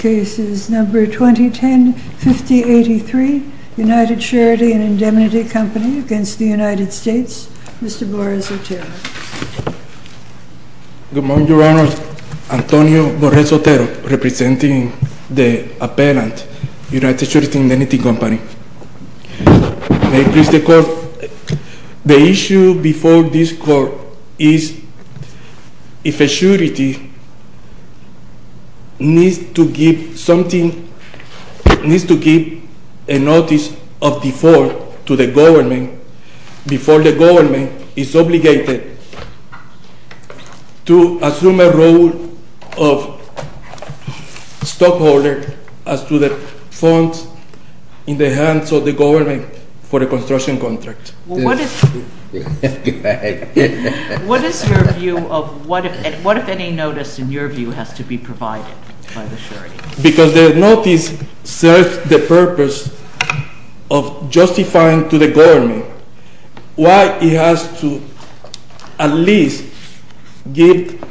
2010, 5083, United Charity and Indemnity Company v. United States, Mr. Borres Otero. Good morning, Your Honor. Antonio Borres Otero, representing the appellant, United Charity and Indemnity Company. The issue before this Court is if a surety needs to give a notice of default to the government before the government is obligated to assume a role of stockholder as to the funds in the hands of the government for a construction contract. What if any notice, in your view, has to be provided by the surety? Because the notice serves the purpose of justifying to the government why it has to at least give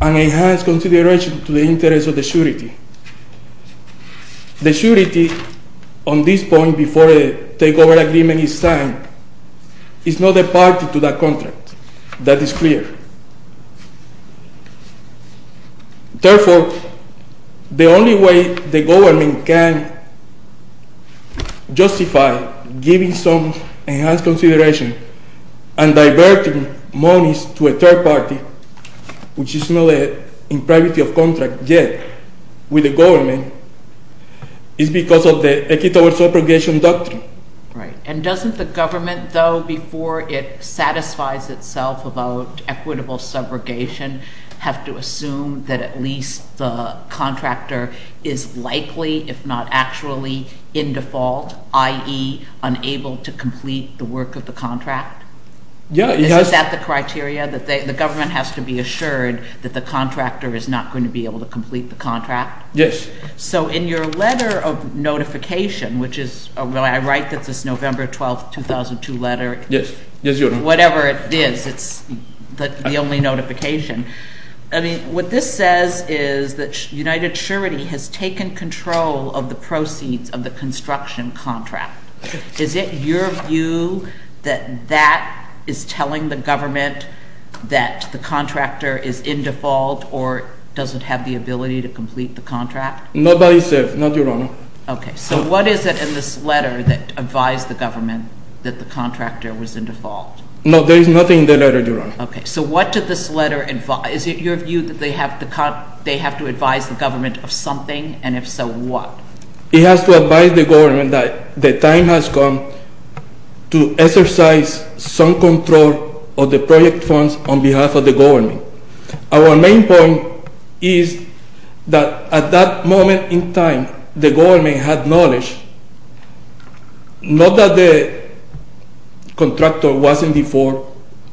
an enhanced consideration to the interests of the surety. The surety, on this point, before a takeover agreement is signed, is not a party to that contract. That is clear. Therefore, the only way the government can justify giving some enhanced consideration and diverting monies to a third party, which is not in privacy of contract yet with the government, is because of the Equitable Subrogation Doctrine. Right. And doesn't the government, though, before it satisfies itself about equitable subrogation, have to assume that at least the contractor is likely, if not actually, in default, i.e., unable to complete the work of the contract? Yeah. Is that the criteria, that the government has to be assured that the contractor is not going to be able to complete the contract? Yes. So, in your letter of notification, which is, well, I write that it's this November 12, 2002 letter. Yes. Whatever it is, it's the only notification. I mean, what this says is that United Surety has taken control of the proceeds of the construction contract. Is it your view that that is telling the government that the contractor is in default or doesn't have the ability to complete the contract? Not by itself. Not, Your Honor. Okay. So, what is it in this letter that advised the government that the contractor was in default? No, there is nothing in the letter, Your Honor. Okay. So, what did this letter advise? Is it your view that they have to advise the government of something, and if so, what? It has to advise the government that the time has come to exercise some control of the project funds on behalf of the government. Our main point is that at that moment in time, the government had knowledge, not that the contractor was in default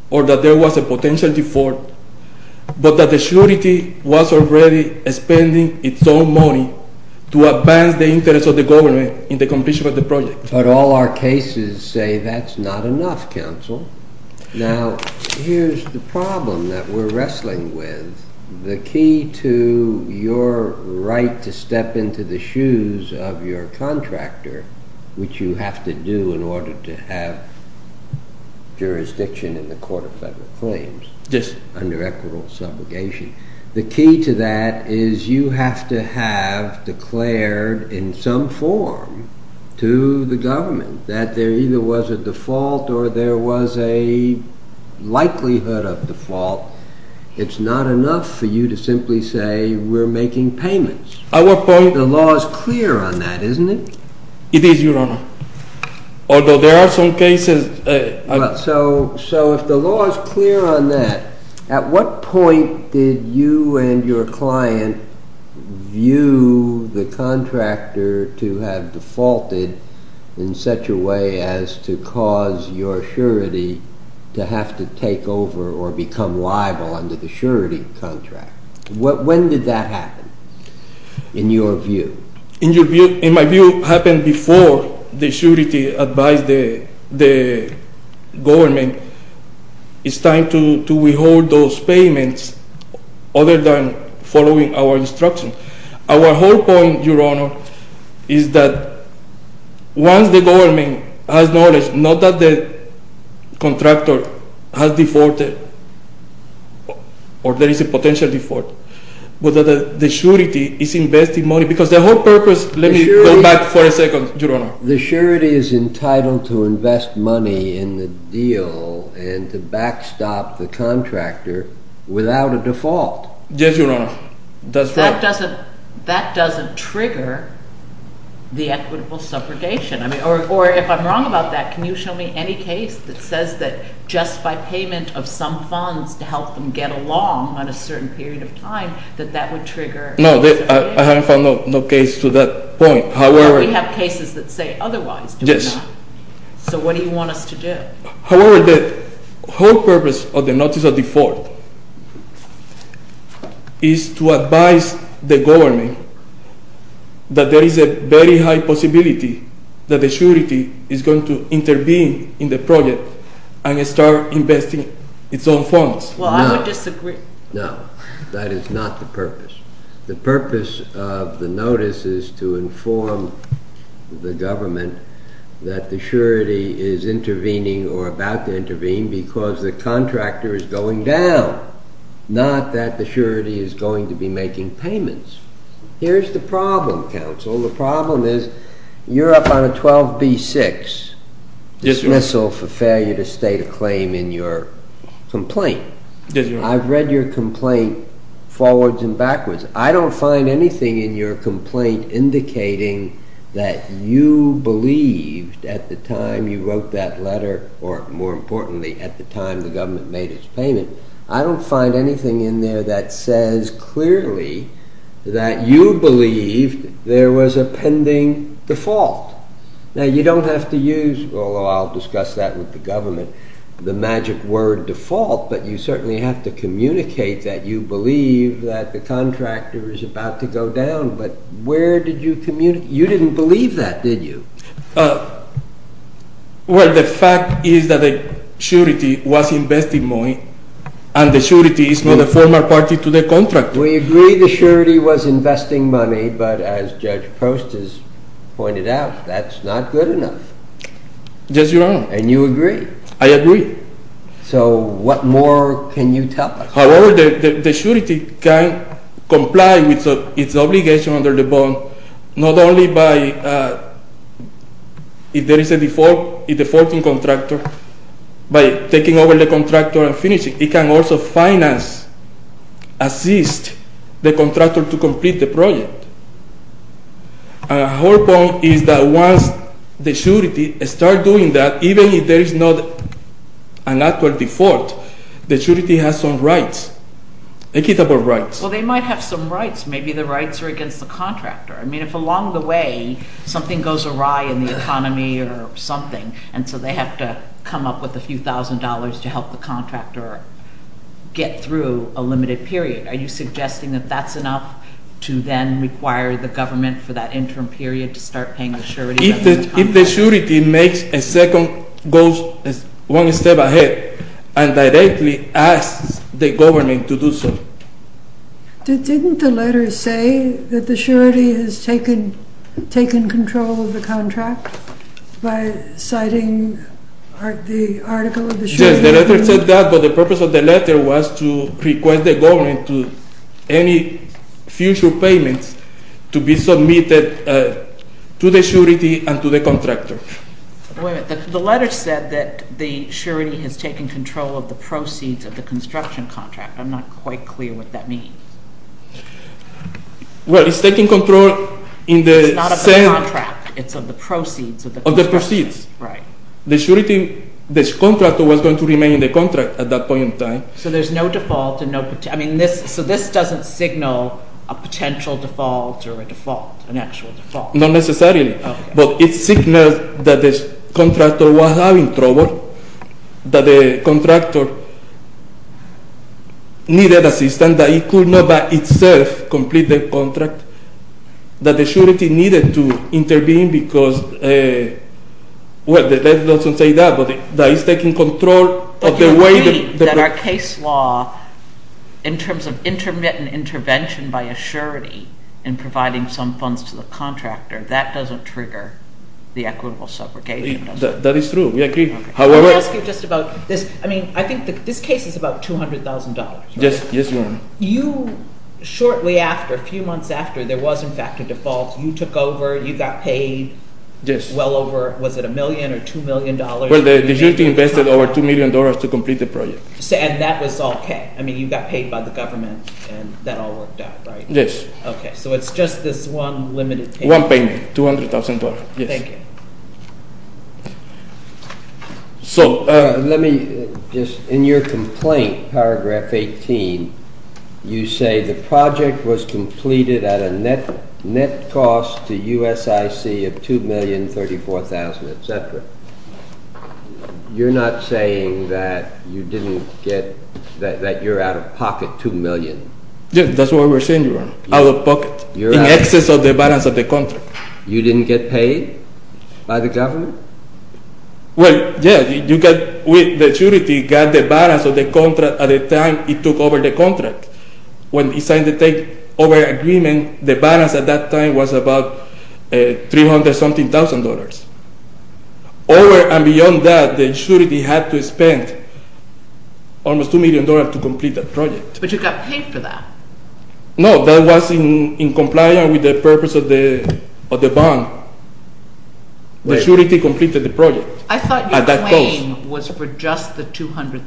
or that there was a potential default, but that the surety was already spending its own money to advance the interests of the government in the completion of the project. But all our cases say that's not enough, counsel. Now, here's the problem that we're wrestling with. The key to your right to step into the shoes of your contractor, which you have to do in order to have jurisdiction in the Court of Federal Claims under equitable subrogation, the key to that is you have to have declared in some form to the government that there either was a default or there was a likelihood of default. It's not enough for you to simply say we're making payments. At what point? The law is clear on that, isn't it? It is, Your Honor. Although there are some cases... So if the law is clear on that, at what point did you and your client view the contractor to have defaulted in such a way as to cause your surety to have to take over or become liable under the surety contract? When did that happen, in your view? In my view, it happened before the surety advised the government. It's time to withhold those payments other than following our instructions. Our whole point, Your Honor, is that once the government has knowledge, not that the contractor has defaulted or there is a no purpose... Let me come back for a second, Your Honor. The surety is entitled to invest money in the deal and to backstop the contractor without a default. Yes, Your Honor. That's right. That doesn't trigger the equitable subrogation. Or if I'm wrong about that, can you show me any case that says that just by payment of some funds to help them get along on a certain period of time that that would trigger... No, I haven't found no case to that point, however... We have cases that say otherwise, do we not? Yes. So what do you want us to do? However, the whole purpose of the notice of default is to advise the government that there is a very high possibility that the surety is going to intervene in the project and start investing its own funds. Well, I would disagree. No, that is not the purpose. The purpose of the notice is to inform the government that the surety is intervening or about to intervene because the contractor is going down, not that the surety is going to be making payments. Here's the problem, counsel. The problem is you're up on a 12b-6 dismissal for failure to state a claim in your complaint. I've read your complaint forwards and backwards. I don't find anything in your complaint indicating that you believed at the time you wrote that letter or, more importantly, at the time the government made its payment. I don't find anything in there that says clearly that you believed there was a pending default. Now, you don't have to use, although I'll discuss that with the government, the magic word default, but you certainly have to communicate that you believe that the contractor is about to go down, but where did you communicate? You didn't believe that, did you? Well, the fact is that the surety was investing money, and the surety is not a former party to the contractor. We agree the surety was investing money, but as Judge Post has pointed out, that's not good enough. Yes, Your Honor. And you agree. I agree. So what more can you tell us? However, the surety can comply with its obligation under the bond, not only by, if there is a defaulting contractor, by taking over the contractor and finishing. It can also finance, assist the contractor to complete the project. Her point is that once the surety starts doing that, even if there is not an actual default, the surety has some rights, equitable rights. Well, they might have some rights. Maybe the rights are against the contractor. I mean, if along the way something goes awry in the economy or something, and so they have to come up with a few thousand dollars to help the contractor get through a limited period, are you suggesting that that's enough to then require the government for that interim period to start paying the surety? If the surety makes a second, goes one step ahead, and directly asks the government to do so. Didn't the letter say that the surety has taken control of the contract by citing the article of the surety? Yes, the letter said that, but the purpose of the letter was to request the government to any future payments to be submitted to the surety and to the contractor. Wait a minute. The letter said that the surety has taken control of the proceeds of the construction contract. I'm not quite clear what that means. Well, it's taking control in the... It's not of the contract. It's of the proceeds of the contract. Of the proceeds. Right. The surety, the contractor was going to remain in the contract at that point in time. So there's no default and no... I mean, so this doesn't signal a potential default or a default, an actual default? Not necessarily, but it signals that the contractor was having trouble, that the contractor needed assistance, and that he could not by itself complete the contract, that the surety needed to intervene because, well, the letter doesn't say that, but that he's taking control of the way... But you agree that our case law, in terms of intermittent intervention by a surety in providing some funds to the contractor, that doesn't trigger the equitable subrogation, does it? That is true. We agree. However... Let me ask you just about this. I mean, I think this case is about $200,000, right? Yes, Your Honor. You, shortly after, a few months after, there was, in fact, a default. You took over. You got paid well over, was it $1 million or $2 million? Well, the surety invested over $2 million to complete the project. And that was okay? I mean, you got paid by the government, and that all worked out, right? Yes. Okay. So it's just this one limited payment? One payment, $200,000, yes. Thank you. So, let me just, in your complaint, paragraph 18, you say the project was completed at a net cost to USIC of $2,034,000, etc. You're not saying that you didn't get, that you're out-of-pocket $2 million? Yes, that's what we're saying, Your Honor. Out-of-pocket, in excess of the balance of the contract. You didn't get paid by the government? Well, yes. The surety got the balance of the contract at the time it took over the contract. When it signed the takeover agreement, the balance at that time was about $300,000-something. Over and beyond that, the surety had to spend almost $2 million to complete the project. But you got paid for that? No, that was in compliance with the purpose of the bond. The surety completed the project. I thought your claim was for just the $200,000.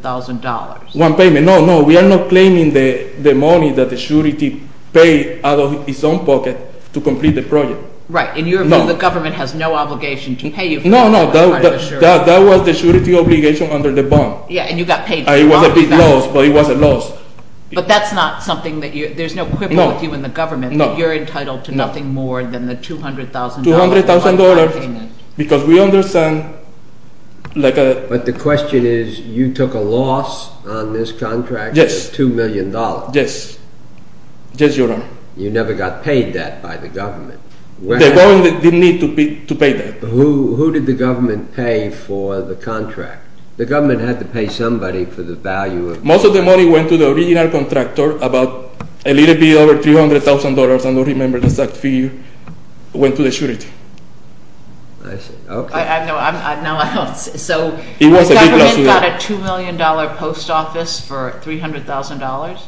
One payment. No, no. We are not claiming the money that the surety paid out of its own pocket to complete the project. Right. In your view, the government has no obligation to pay you for that part of the surety. No, no. That was the surety obligation under the bond. Yeah, and you got paid for the bond you got. It was a big loss, but it was a loss. But that's not something that you... there's no quibble with you and the government that you're entitled to nothing more than the $200,000. $200,000, because we understand, like a... But the question is, you took a loss on this contract of $2 million. Yes. Yes, Your Honor. You never got paid that by the government. The government didn't need to pay that. Who did the government pay for the contract? The government had to pay somebody for the value of the contract. Most of the money went to the original contractor, about a little bit over $300,000. I don't remember the exact figure. It went to the surety. I see. Okay. I know. So the government got a $2 million post office for $300,000?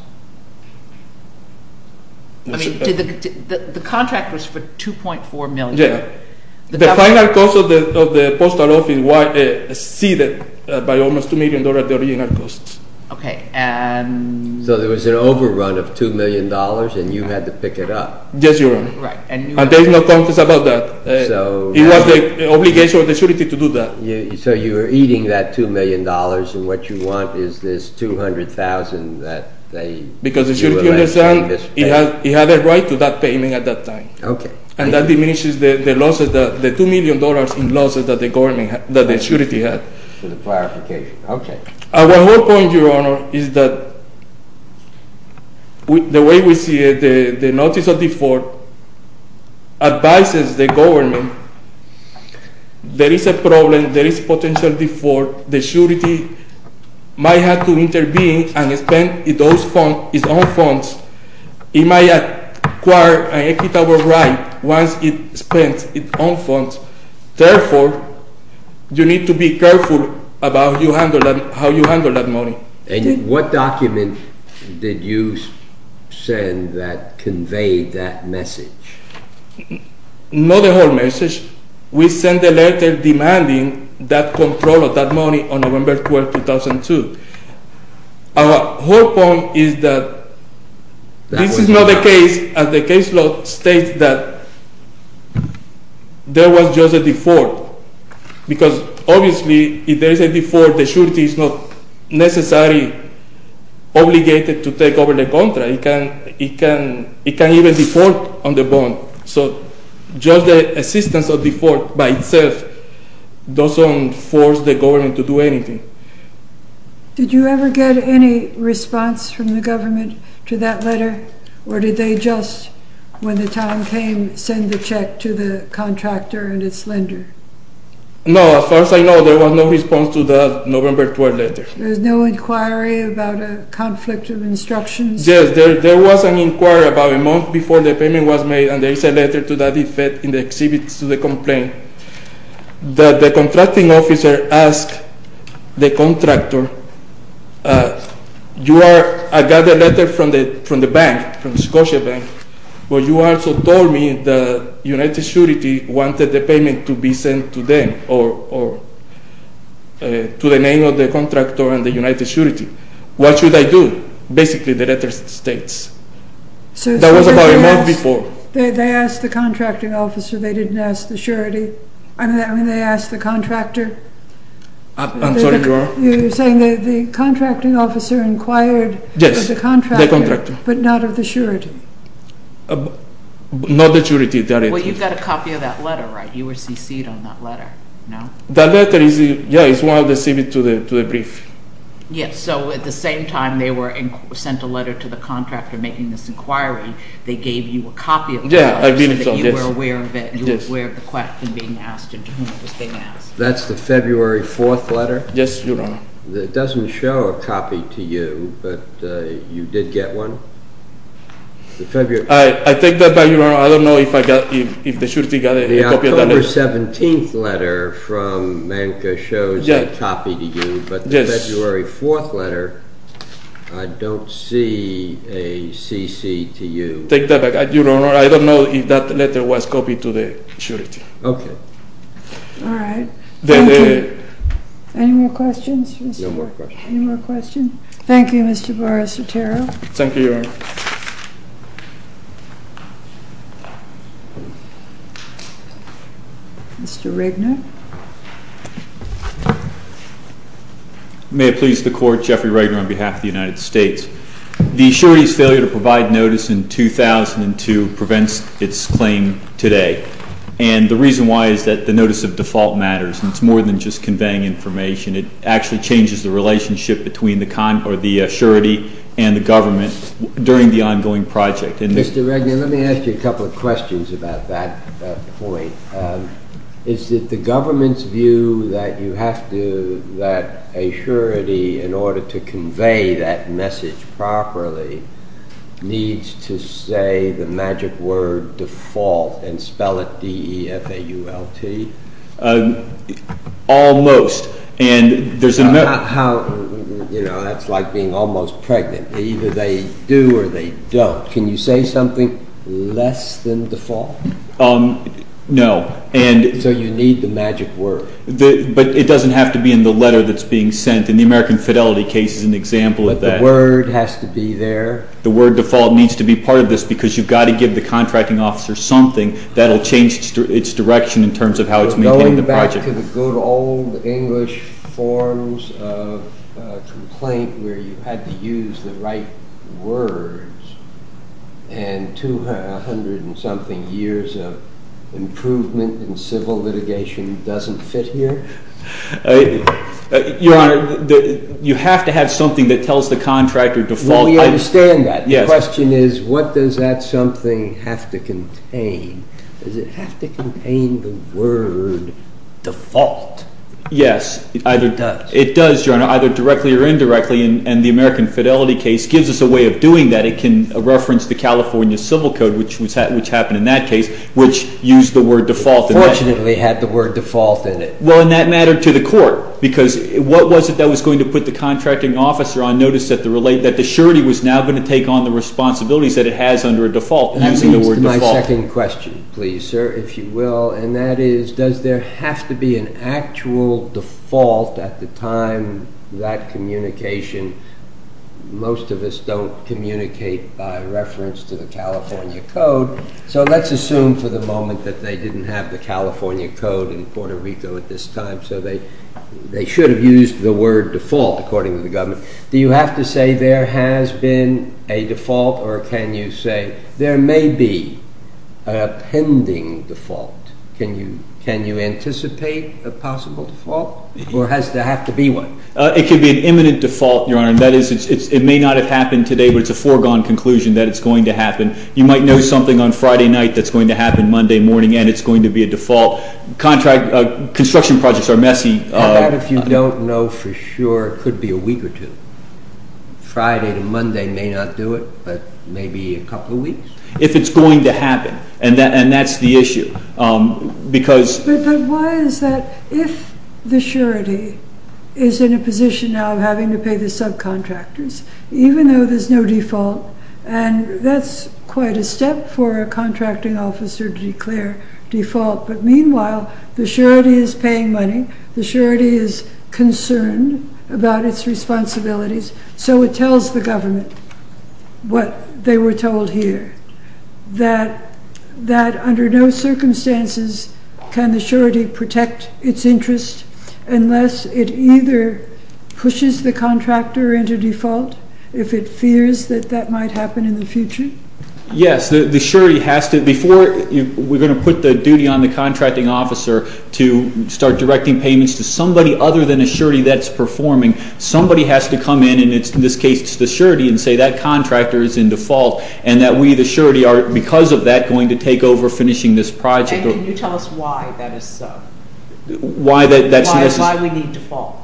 I mean, the contract was for $2.4 million. The final cost of the post office was exceeded by almost $2 million, the original cost. Okay. So there was an overrun of $2 million, and you had to pick it up. Yes, Your Honor. Right. And there's no conscience about that. It was the obligation of the surety to do that. So you were eating that $2 million, and what you want is this $200,000 that they... Because the surety understands it had a right to that payment at that time. Okay. And that diminishes the losses, the $2 million in losses that the government, that the surety had. For the clarification. Okay. Our whole point, Your Honor, is that the way we see it, the notice of default advises the government there is a problem, there is potential default, the surety might have to intervene and spend those funds, its own funds. It might acquire an equitable right once it spends its own funds. Therefore, you need to be careful about how you handle that money. And what document did you send that conveyed that message? Not the whole message. We sent a letter demanding that control of that money on November 12, 2002. Our whole point is that this is not the case as the case law states that there was just a default. Because obviously, if there is a default, the surety is not necessarily obligated to take over the contract. It can even default on the bond. So just the assistance of default by itself doesn't force the government to do anything. Okay. Did you ever get any response from the government to that letter? Or did they just, when the time came, send the check to the contractor and its lender? No, as far as I know, there was no response to the November 12 letter. There was no inquiry about a conflict of instructions? Yes, there was an inquiry about a month before the payment was made, and there is a letter to that effect in the exhibits to the complaint. The contracting officer asked the contractor, I got a letter from the bank, from the Scotia Bank, where you also told me that United Surety wanted the payment to be sent to them, or to the name of the contractor and the United Surety. What should I do? Basically, the letter states. That was about a month before. They asked the contracting officer. They didn't ask the surety. I mean, they asked the contractor. I'm sorry, Dora. You're saying that the contracting officer inquired of the contractor. Yes, the contractor. But not of the surety. Not the surety. Well, you got a copy of that letter, right? You were CC'd on that letter, no? That letter, yes, is one of the exhibits to the brief. Yes, so at the same time they sent a letter to the contractor making this inquiry, they gave you a copy of the letter so that you were aware of it, you were aware of the question being asked and to whom it was being asked. That's the February 4th letter? Yes, Your Honor. It doesn't show a copy to you, but you did get one? I take that back, Your Honor. I don't know if the surety got a copy of that letter. The October 17th letter from Manco shows a copy to you, but the February 4th letter, I don't see a CC to you. I take that back, Your Honor. I don't know if that letter was copied to the surety. Okay. All right. Thank you. Any more questions? No more questions. Thank you, Mr. Barrasotero. Thank you, Your Honor. Mr. Regner. May it please the Court, Jeffrey Regner on behalf of the United States. The surety's failure to provide notice in 2002 prevents its claim today, and the reason why is that the notice of default matters, and it's more than just conveying information. It actually changes the relationship between the surety and the government during the ongoing project. Mr. Regner, let me ask you a couple of questions about that point. Is it the government's view that you have to, that a surety, in order to convey that message properly, needs to say the magic word default and spell it D-E-F-A-U-L-T? Almost. That's like being almost pregnant. Either they do or they don't. Can you say something less than default? No. So you need the magic word. But it doesn't have to be in the letter that's being sent. In the American Fidelity case, it's an example of that. But the word has to be there. The word default needs to be part of this, because you've got to give the contracting officer something that will change its direction in terms of how it's maintaining the project. Back to the good old English forms of complaint where you had to use the right words and 200-and-something years of improvement in civil litigation doesn't fit here? Your Honor, you have to have something that tells the contractor default. Well, we understand that. Does it have to contain the word default? Yes. It does. It does, Your Honor, either directly or indirectly. And the American Fidelity case gives us a way of doing that. It can reference the California Civil Code, which happened in that case, which used the word default. Fortunately, it had the word default in it. Well, in that matter, to the court, because what was it that was going to put the contracting officer on notice that it has under a default using the word default? Back to my second question, please, sir, if you will, and that is does there have to be an actual default at the time that communication? Most of us don't communicate by reference to the California Code, so let's assume for the moment that they didn't have the California Code in Puerto Rico at this time, so they should have used the word default according to the government. Do you have to say there has been a default or can you say there may be a pending default? Can you anticipate a possible default or does there have to be one? It could be an imminent default, Your Honor, and that is it may not have happened today, but it's a foregone conclusion that it's going to happen. You might know something on Friday night that's going to happen Monday morning and it's going to be a default. Construction projects are messy. How about if you don't know for sure? It could be a week or two. Friday to Monday may not do it, but maybe a couple of weeks. If it's going to happen, and that's the issue. But why is that? If the surety is in a position now of having to pay the subcontractors, even though there's no default, and that's quite a step for a contracting officer to declare default, but meanwhile the surety is paying money, the surety is concerned about its responsibilities, so it tells the government what they were told here, that under no circumstances can the surety protect its interest unless it either pushes the contractor into default if it fears that that might happen in the future. Yes, the surety has to. Before we're going to put the duty on the contracting officer to start directing payments to somebody other than a surety that's performing, somebody has to come in, and in this case it's the surety, and say that contractor is in default and that we the surety are because of that going to take over finishing this project. And can you tell us why that is so? Why we need default?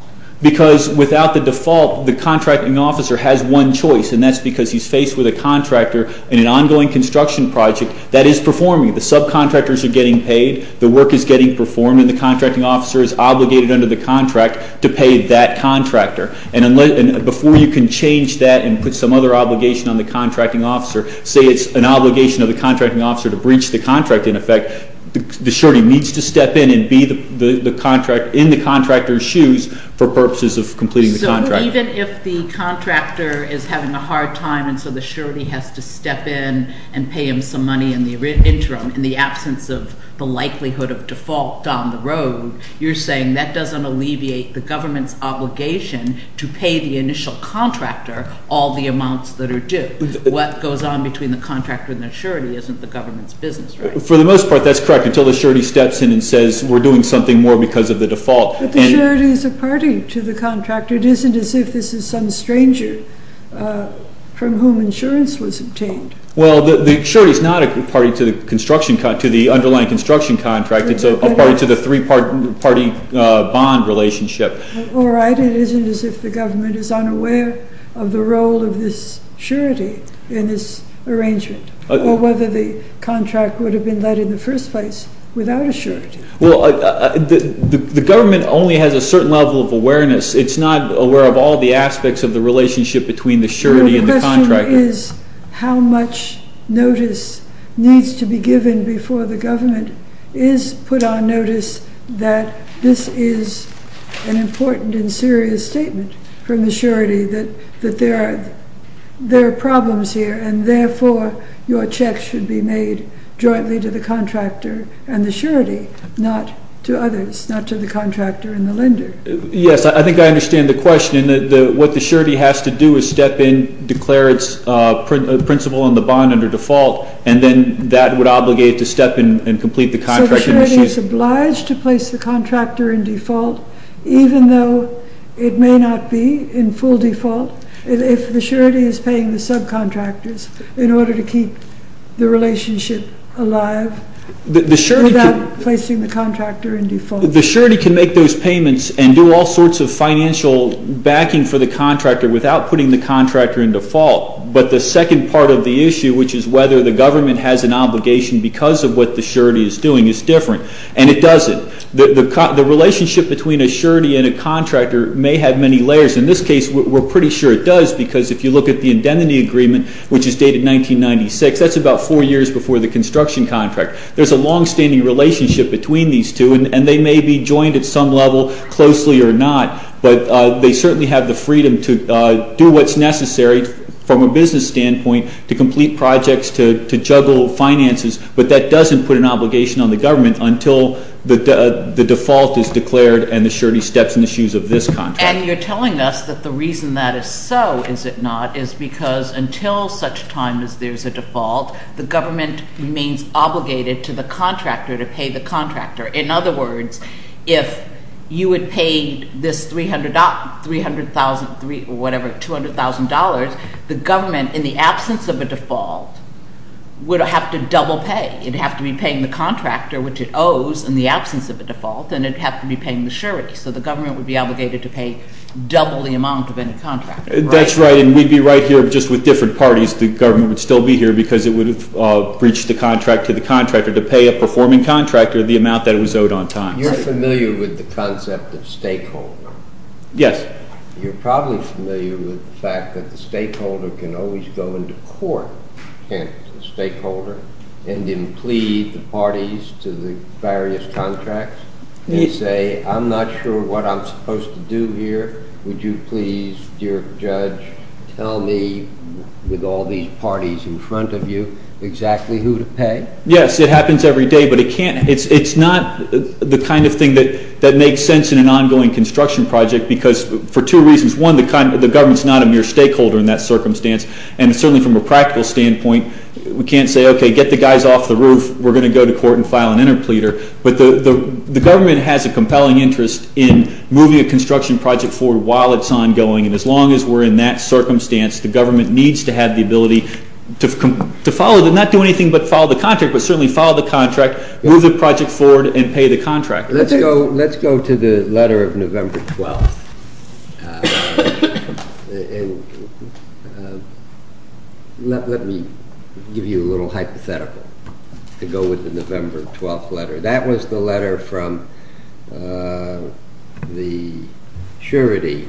Because without the default, the contracting officer has one choice, and that's because he's faced with a contractor in an ongoing construction project that is performing. The subcontractors are getting paid. The work is getting performed, and the contracting officer is obligated under the contract to pay that contractor. And before you can change that and put some other obligation on the contracting officer, say it's an obligation of the contracting officer to breach the contract, in effect, the surety needs to step in and be in the contractor's shoes for purposes of completing the contract. So even if the contractor is having a hard time and so the surety has to step in and pay him some money in the interim in the absence of the likelihood of default down the road, you're saying that doesn't alleviate the government's obligation to pay the initial contractor all the amounts that are due. What goes on between the contractor and the surety isn't the government's business, right? For the most part, that's correct, until the surety steps in and says we're doing something more because of the default. But the surety is a party to the contractor. It isn't as if this is some stranger from whom insurance was obtained. Well, the surety is not a party to the underlying construction contract. It's a party to the three-party bond relationship. All right. It isn't as if the government is unaware of the role of this surety in this arrangement or whether the contract would have been led in the first place without a surety. Well, the government only has a certain level of awareness. It's not aware of all the aspects of the relationship between the surety and the contractor. How much notice needs to be given before the government is put on notice that this is an important and serious statement from the surety that there are problems here and therefore your checks should be made jointly to the contractor and the surety, not to others, not to the contractor and the lender. Yes, I think I understand the question. What the surety has to do is step in, declare its principle on the bond under default, and then that would obligate it to step in and complete the contract. So the surety is obliged to place the contractor in default even though it may not be in full default if the surety is paying the subcontractors in order to keep the relationship alive without placing the contractor in default. The surety can make those payments and do all sorts of financial backing for the contractor without putting the contractor in default. But the second part of the issue, which is whether the government has an obligation because of what the surety is doing, is different. And it doesn't. The relationship between a surety and a contractor may have many layers. In this case, we're pretty sure it does because if you look at the indemnity agreement, which is dated 1996, that's about four years before the construction contract. There's a longstanding relationship between these two, and they may be joined at some level closely or not, but they certainly have the freedom to do what's necessary from a business standpoint to complete projects, to juggle finances, but that doesn't put an obligation on the government until the default is declared and the surety steps in the shoes of this contract. And you're telling us that the reason that is so, is it not, is because until such time as there's a default, the government remains obligated to the contractor to pay the contractor. In other words, if you had paid this $300,000 or whatever, $200,000, the government, in the absence of a default, would have to double pay. It would have to be paying the contractor, which it owes in the absence of a default, and it would have to be paying the surety. So the government would be obligated to pay double the amount of any contractor. That's right, and we'd be right here just with different parties. The government would still be here because it would have breached the contract to the contractor to pay a performing contractor the amount that it was owed on time. You're familiar with the concept of stakeholder. Yes. You're probably familiar with the fact that the stakeholder can always go into court, hence the stakeholder, and then plead the parties to the various contracts and say, I'm not sure what I'm supposed to do here. Would you please, dear judge, tell me, with all these parties in front of you, exactly who to pay? Yes, it happens every day, but it's not the kind of thing that makes sense in an ongoing construction project because for two reasons. One, the government's not a mere stakeholder in that circumstance, and certainly from a practical standpoint, we can't say, okay, get the guys off the roof. We're going to go to court and file an interpleader. But the government has a compelling interest in moving a construction project forward while it's ongoing, and as long as we're in that circumstance, the government needs to have the ability to follow, not do anything but follow the contract, but certainly follow the contract, move the project forward, and pay the contractor. Let's go to the letter of November 12th. And let me give you a little hypothetical to go with the November 12th letter. That was the letter from the surety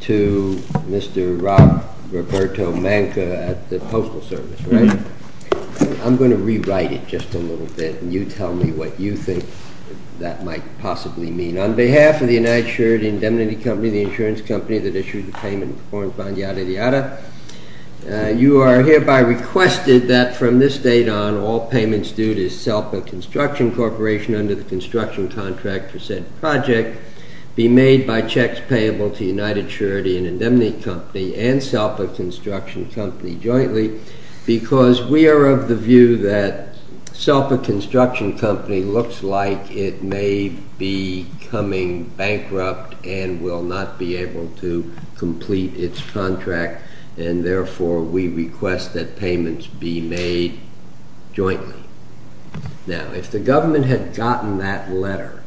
to Mr. Rob Roberto Manca at the Postal Service, right? I'm going to rewrite it just a little bit, and you tell me what you think that might possibly mean. On behalf of the United Surety Indemnity Company, the insurance company that issued the payment, you are hereby requested that from this date on, all payments due to SELPA Construction Corporation under the construction contract for said project be made by checks payable to United Surety and Indemnity Company and SELPA Construction Company jointly because we are of the view that SELPA Construction Company looks like it may be coming bankrupt and will not be able to complete its contract, and therefore we request that payments be made jointly. Now, if the government had gotten that letter,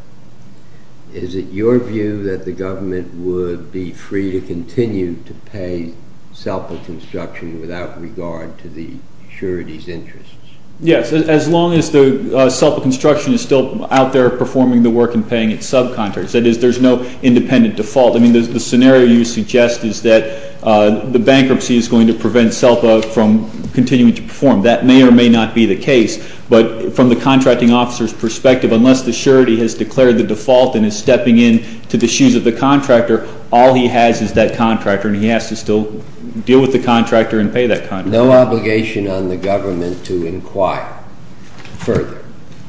is it your view that the government would be free to continue to pay SELPA Construction without regard to the surety's interests? Yes, as long as the SELPA Construction is still out there performing the work and paying its subcontractors. That is, there's no independent default. I mean, the scenario you suggest is that the bankruptcy is going to prevent SELPA from continuing to perform. That may or may not be the case, but from the contracting officer's perspective, unless the surety has declared the default and is stepping into the shoes of the contractor, all he has is that contractor, and he has to still deal with the contractor and pay that contractor. No obligation on the government to inquire further?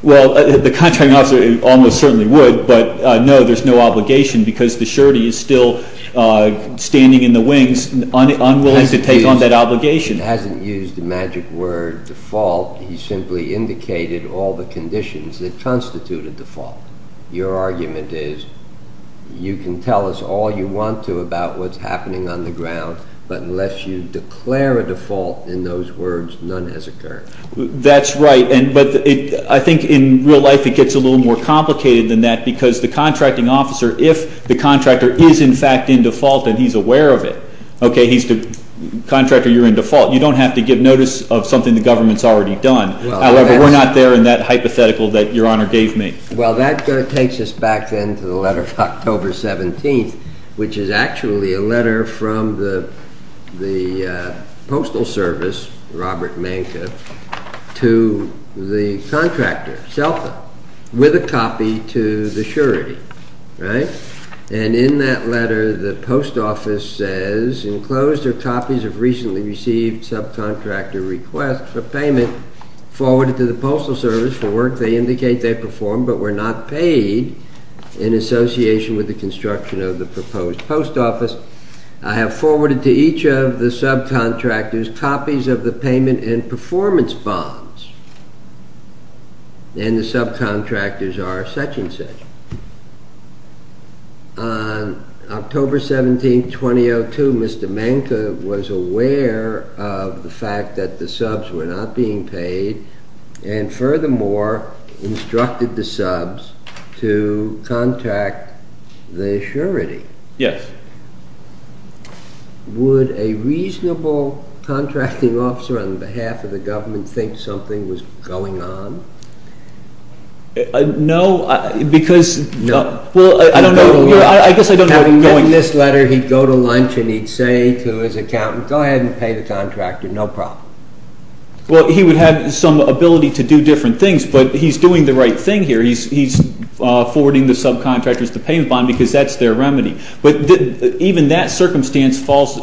Well, the contracting officer almost certainly would, but no, there's no obligation because the surety is still standing in the wings, unwilling to take on that obligation. Hasn't used the magic word default. He simply indicated all the conditions that constitute a default. Your argument is you can tell us all you want to about what's happening on the ground, but unless you declare a default in those words, none has occurred. That's right, but I think in real life it gets a little more complicated than that because the contracting officer, if the contractor is in fact in default and he's aware of it, okay, he's the contractor, you're in default, you don't have to give notice of something the government's already done. However, we're not there in that hypothetical that Your Honor gave me. Well, that takes us back then to the letter of October 17th, which is actually a letter from the Postal Service, Robert Manka, to the contractor, SELFA, with a copy to the surety, right? And in that letter the post office says, enclosed are copies of recently received subcontractor requests for payment forwarded to the Postal Service for work they indicate they performed, but were not paid in association with the construction of the proposed post office. I have forwarded to each of the subcontractors copies of the payment and performance bonds, and the subcontractors are such and such. On October 17th, 2002, Mr. Manka was aware of the fact that the subs were not being paid and furthermore instructed the subs to contact the surety. Yes. Would a reasonable contracting officer on behalf of the government think something was going on? No, because… No. Well, I don't know… Having written this letter, he'd go to lunch and he'd say to his accountant, go ahead and pay the contractor, no problem. Well, he would have some ability to do different things, but he's doing the right thing here. He's forwarding the subcontractors the payment bond because that's their remedy. But even that circumstance falls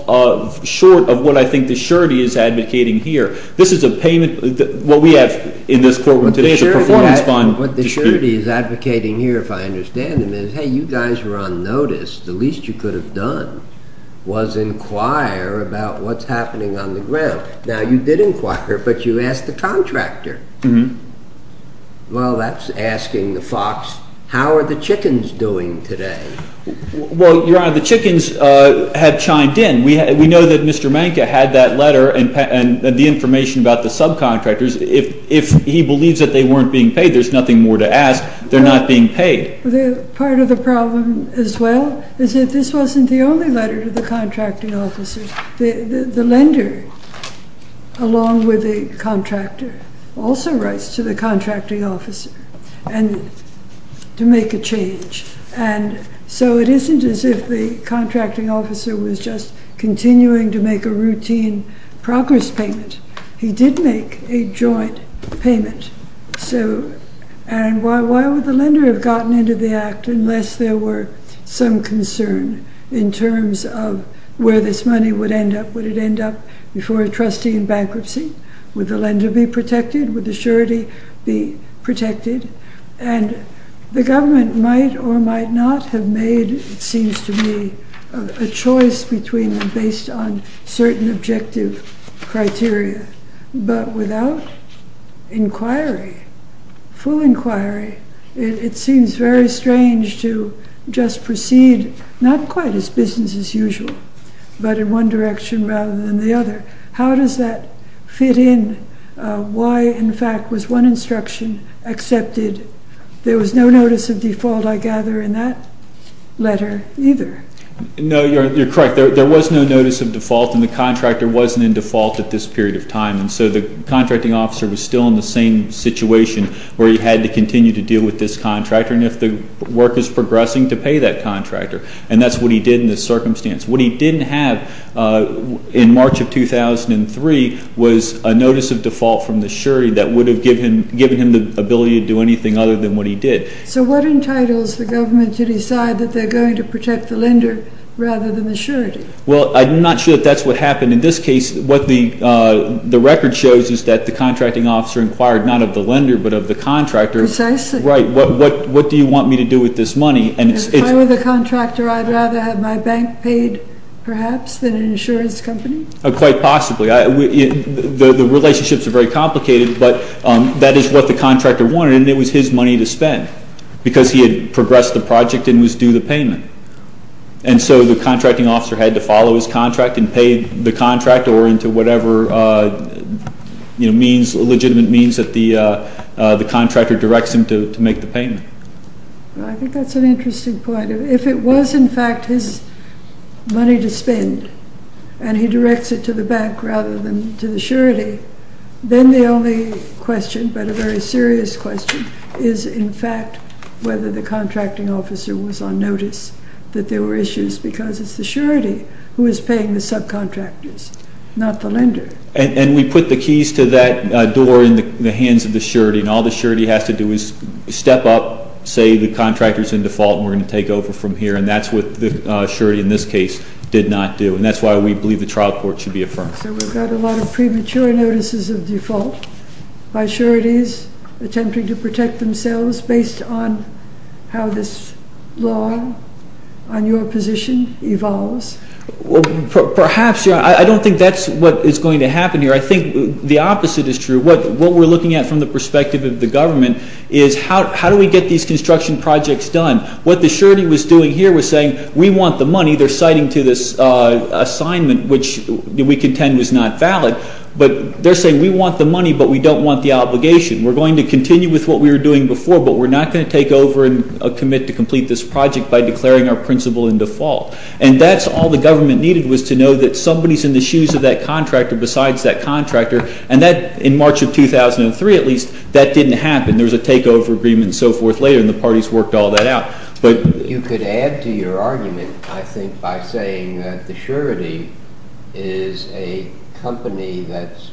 short of what I think the surety is advocating here. This is a payment. What we have in this courtroom today is a performance bond dispute. What the surety is advocating here, if I understand it, is, hey, you guys were on notice. The least you could have done was inquire about what's happening on the ground. Now, you did inquire, but you asked the contractor. Well, that's asking the fox, how are the chickens doing today? Well, Your Honor, the chickens have chimed in. We know that Mr. Manka had that letter and the information about the subcontractors. If he believes that they weren't being paid, there's nothing more to ask. They're not being paid. Part of the problem as well is that this wasn't the only letter to the contracting officer. The lender, along with the contractor, also writes to the contracting officer to make a change. And so it isn't as if the contracting officer was just continuing to make a routine progress payment. He did make a joint payment. And why would the lender have gotten into the act unless there were some concern in terms of where this money would end up? Would it end up before a trustee in bankruptcy? Would the lender be protected? Would the surety be protected? And the government might or might not have made, it seems to me, a choice between them based on certain objective criteria. But without inquiry, full inquiry, it seems very strange to just proceed not quite as business as usual, but in one direction rather than the other. How does that fit in? Why, in fact, was one instruction accepted? There was no notice of default, I gather, in that letter either. No, you're correct. There was no notice of default, and the contractor wasn't in default at this period of time. And so the contracting officer was still in the same situation where he had to continue to deal with this contractor, and if the work is progressing, to pay that contractor. And that's what he did in this circumstance. What he didn't have in March of 2003 was a notice of default from the surety that would have given him the ability to do anything other than what he did. So what entitles the government to decide that they're going to protect the lender rather than the surety? Well, I'm not sure that that's what happened. In this case, what the record shows is that the contracting officer inquired not of the lender but of the contractor. Precisely. Right. What do you want me to do with this money? If I were the contractor, I'd rather have my bank paid perhaps than an insurance company. Quite possibly. The relationships are very complicated, but that is what the contractor wanted, and it was his money to spend because he had progressed the project and was due the payment. And so the contracting officer had to follow his contract and pay the contractor into whatever legitimate means that the contractor directs him to make the payment. I think that's an interesting point. If it was in fact his money to spend and he directs it to the bank rather than to the surety, then the only question but a very serious question is in fact whether the contracting officer was on notice that there were issues because it's the surety who is paying the subcontractors, not the lender. And we put the keys to that door in the hands of the surety, and all the surety has to do is step up, say the contractor is in default and we're going to take over from here, and that's what the surety in this case did not do. And that's why we believe the trial court should be affirmed. So we've got a lot of premature notices of default by sureties attempting to protect themselves based on how this law on your position evolves. Perhaps. I don't think that's what is going to happen here. I think the opposite is true. What we're looking at from the perspective of the government is how do we get these construction projects done? What the surety was doing here was saying we want the money. They're citing to this assignment, which we contend was not valid, but they're saying we want the money, but we don't want the obligation. We're going to continue with what we were doing before, but we're not going to take over and commit to complete this project by declaring our principal in default. And that's all the government needed was to know that somebody is in the shoes of that contractor besides that contractor, and that in March of 2003, at least, that didn't happen. There was a takeover agreement and so forth later, and the parties worked all that out. You could add to your argument, I think, by saying that the surety is a company that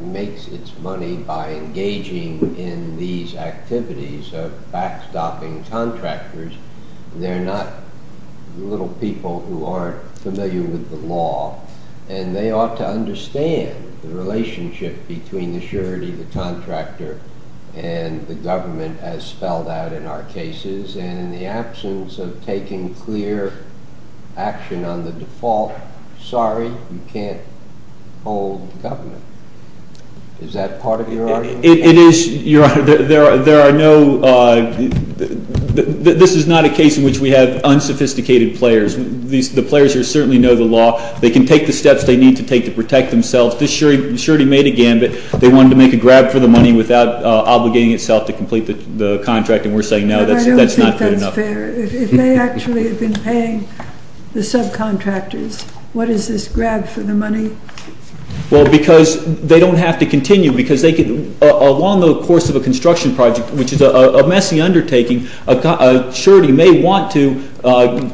makes its money by engaging in these activities of backstopping contractors. They're not little people who aren't familiar with the law, and they ought to understand the relationship between the surety, the contractor, and the government as spelled out in our cases. And in the absence of taking clear action on the default, sorry, you can't hold government. Is that part of your argument? It is, Your Honor. There are no – this is not a case in which we have unsophisticated players. The players certainly know the law. They can take the steps they need to take to protect themselves. This surety made a gambit. They wanted to make a grab for the money without obligating itself to complete the contract, and we're saying no, that's not fair enough. But I don't think that's fair. If they actually have been paying the subcontractors, what is this grab for the money? Well, because they don't have to continue. Because along the course of a construction project, which is a messy undertaking, a surety may want to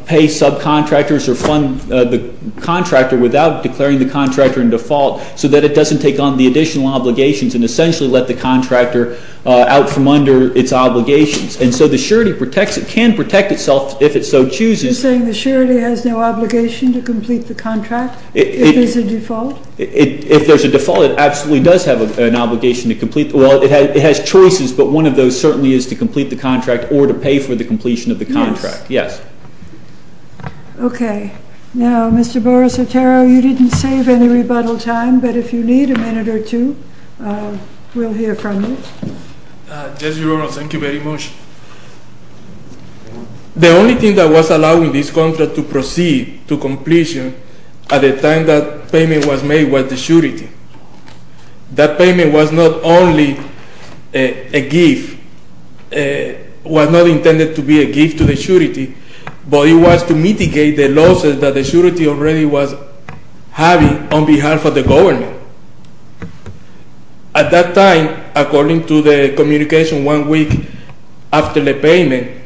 pay subcontractors or fund the contractor without declaring the contractor in default so that it doesn't take on the additional obligations and essentially let the contractor out from under its obligations. And so the surety can protect itself if it so chooses. Are you saying the surety has no obligation to complete the contract if there's a default? If there's a default, it absolutely does have an obligation to complete – well, it has choices, but one of those certainly is to complete the contract or to pay for the completion of the contract. Yes. Yes. Okay. Now, Mr. Boris Otero, you didn't save any rebuttal time, but if you need a minute or two, we'll hear from you. Yes, Your Honor. Thank you very much. The only thing that was allowing this contract to proceed to completion at the time that payment was made was the surety. That payment was not only a gift – was not intended to be a gift to the surety, but it was to mitigate the losses that the surety already was having on behalf of the government. At that time, according to the communication one week after the payment,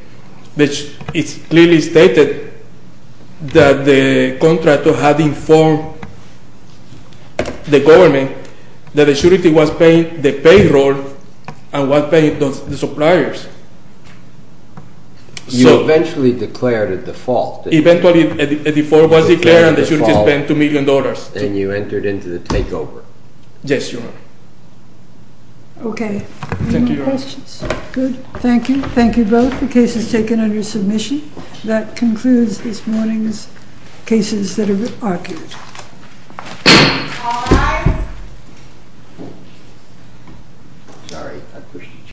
it clearly stated that the contractor had informed the government that the surety was paying the payroll and was paying the suppliers. You eventually declared a default. Eventually a default was declared and the surety spent $2 million. And you entered into the takeover. Yes, Your Honor. Okay. Any more questions? Good. Thank you. Thank you both. The case is taken under submission. That concludes this morning's cases that have been argued.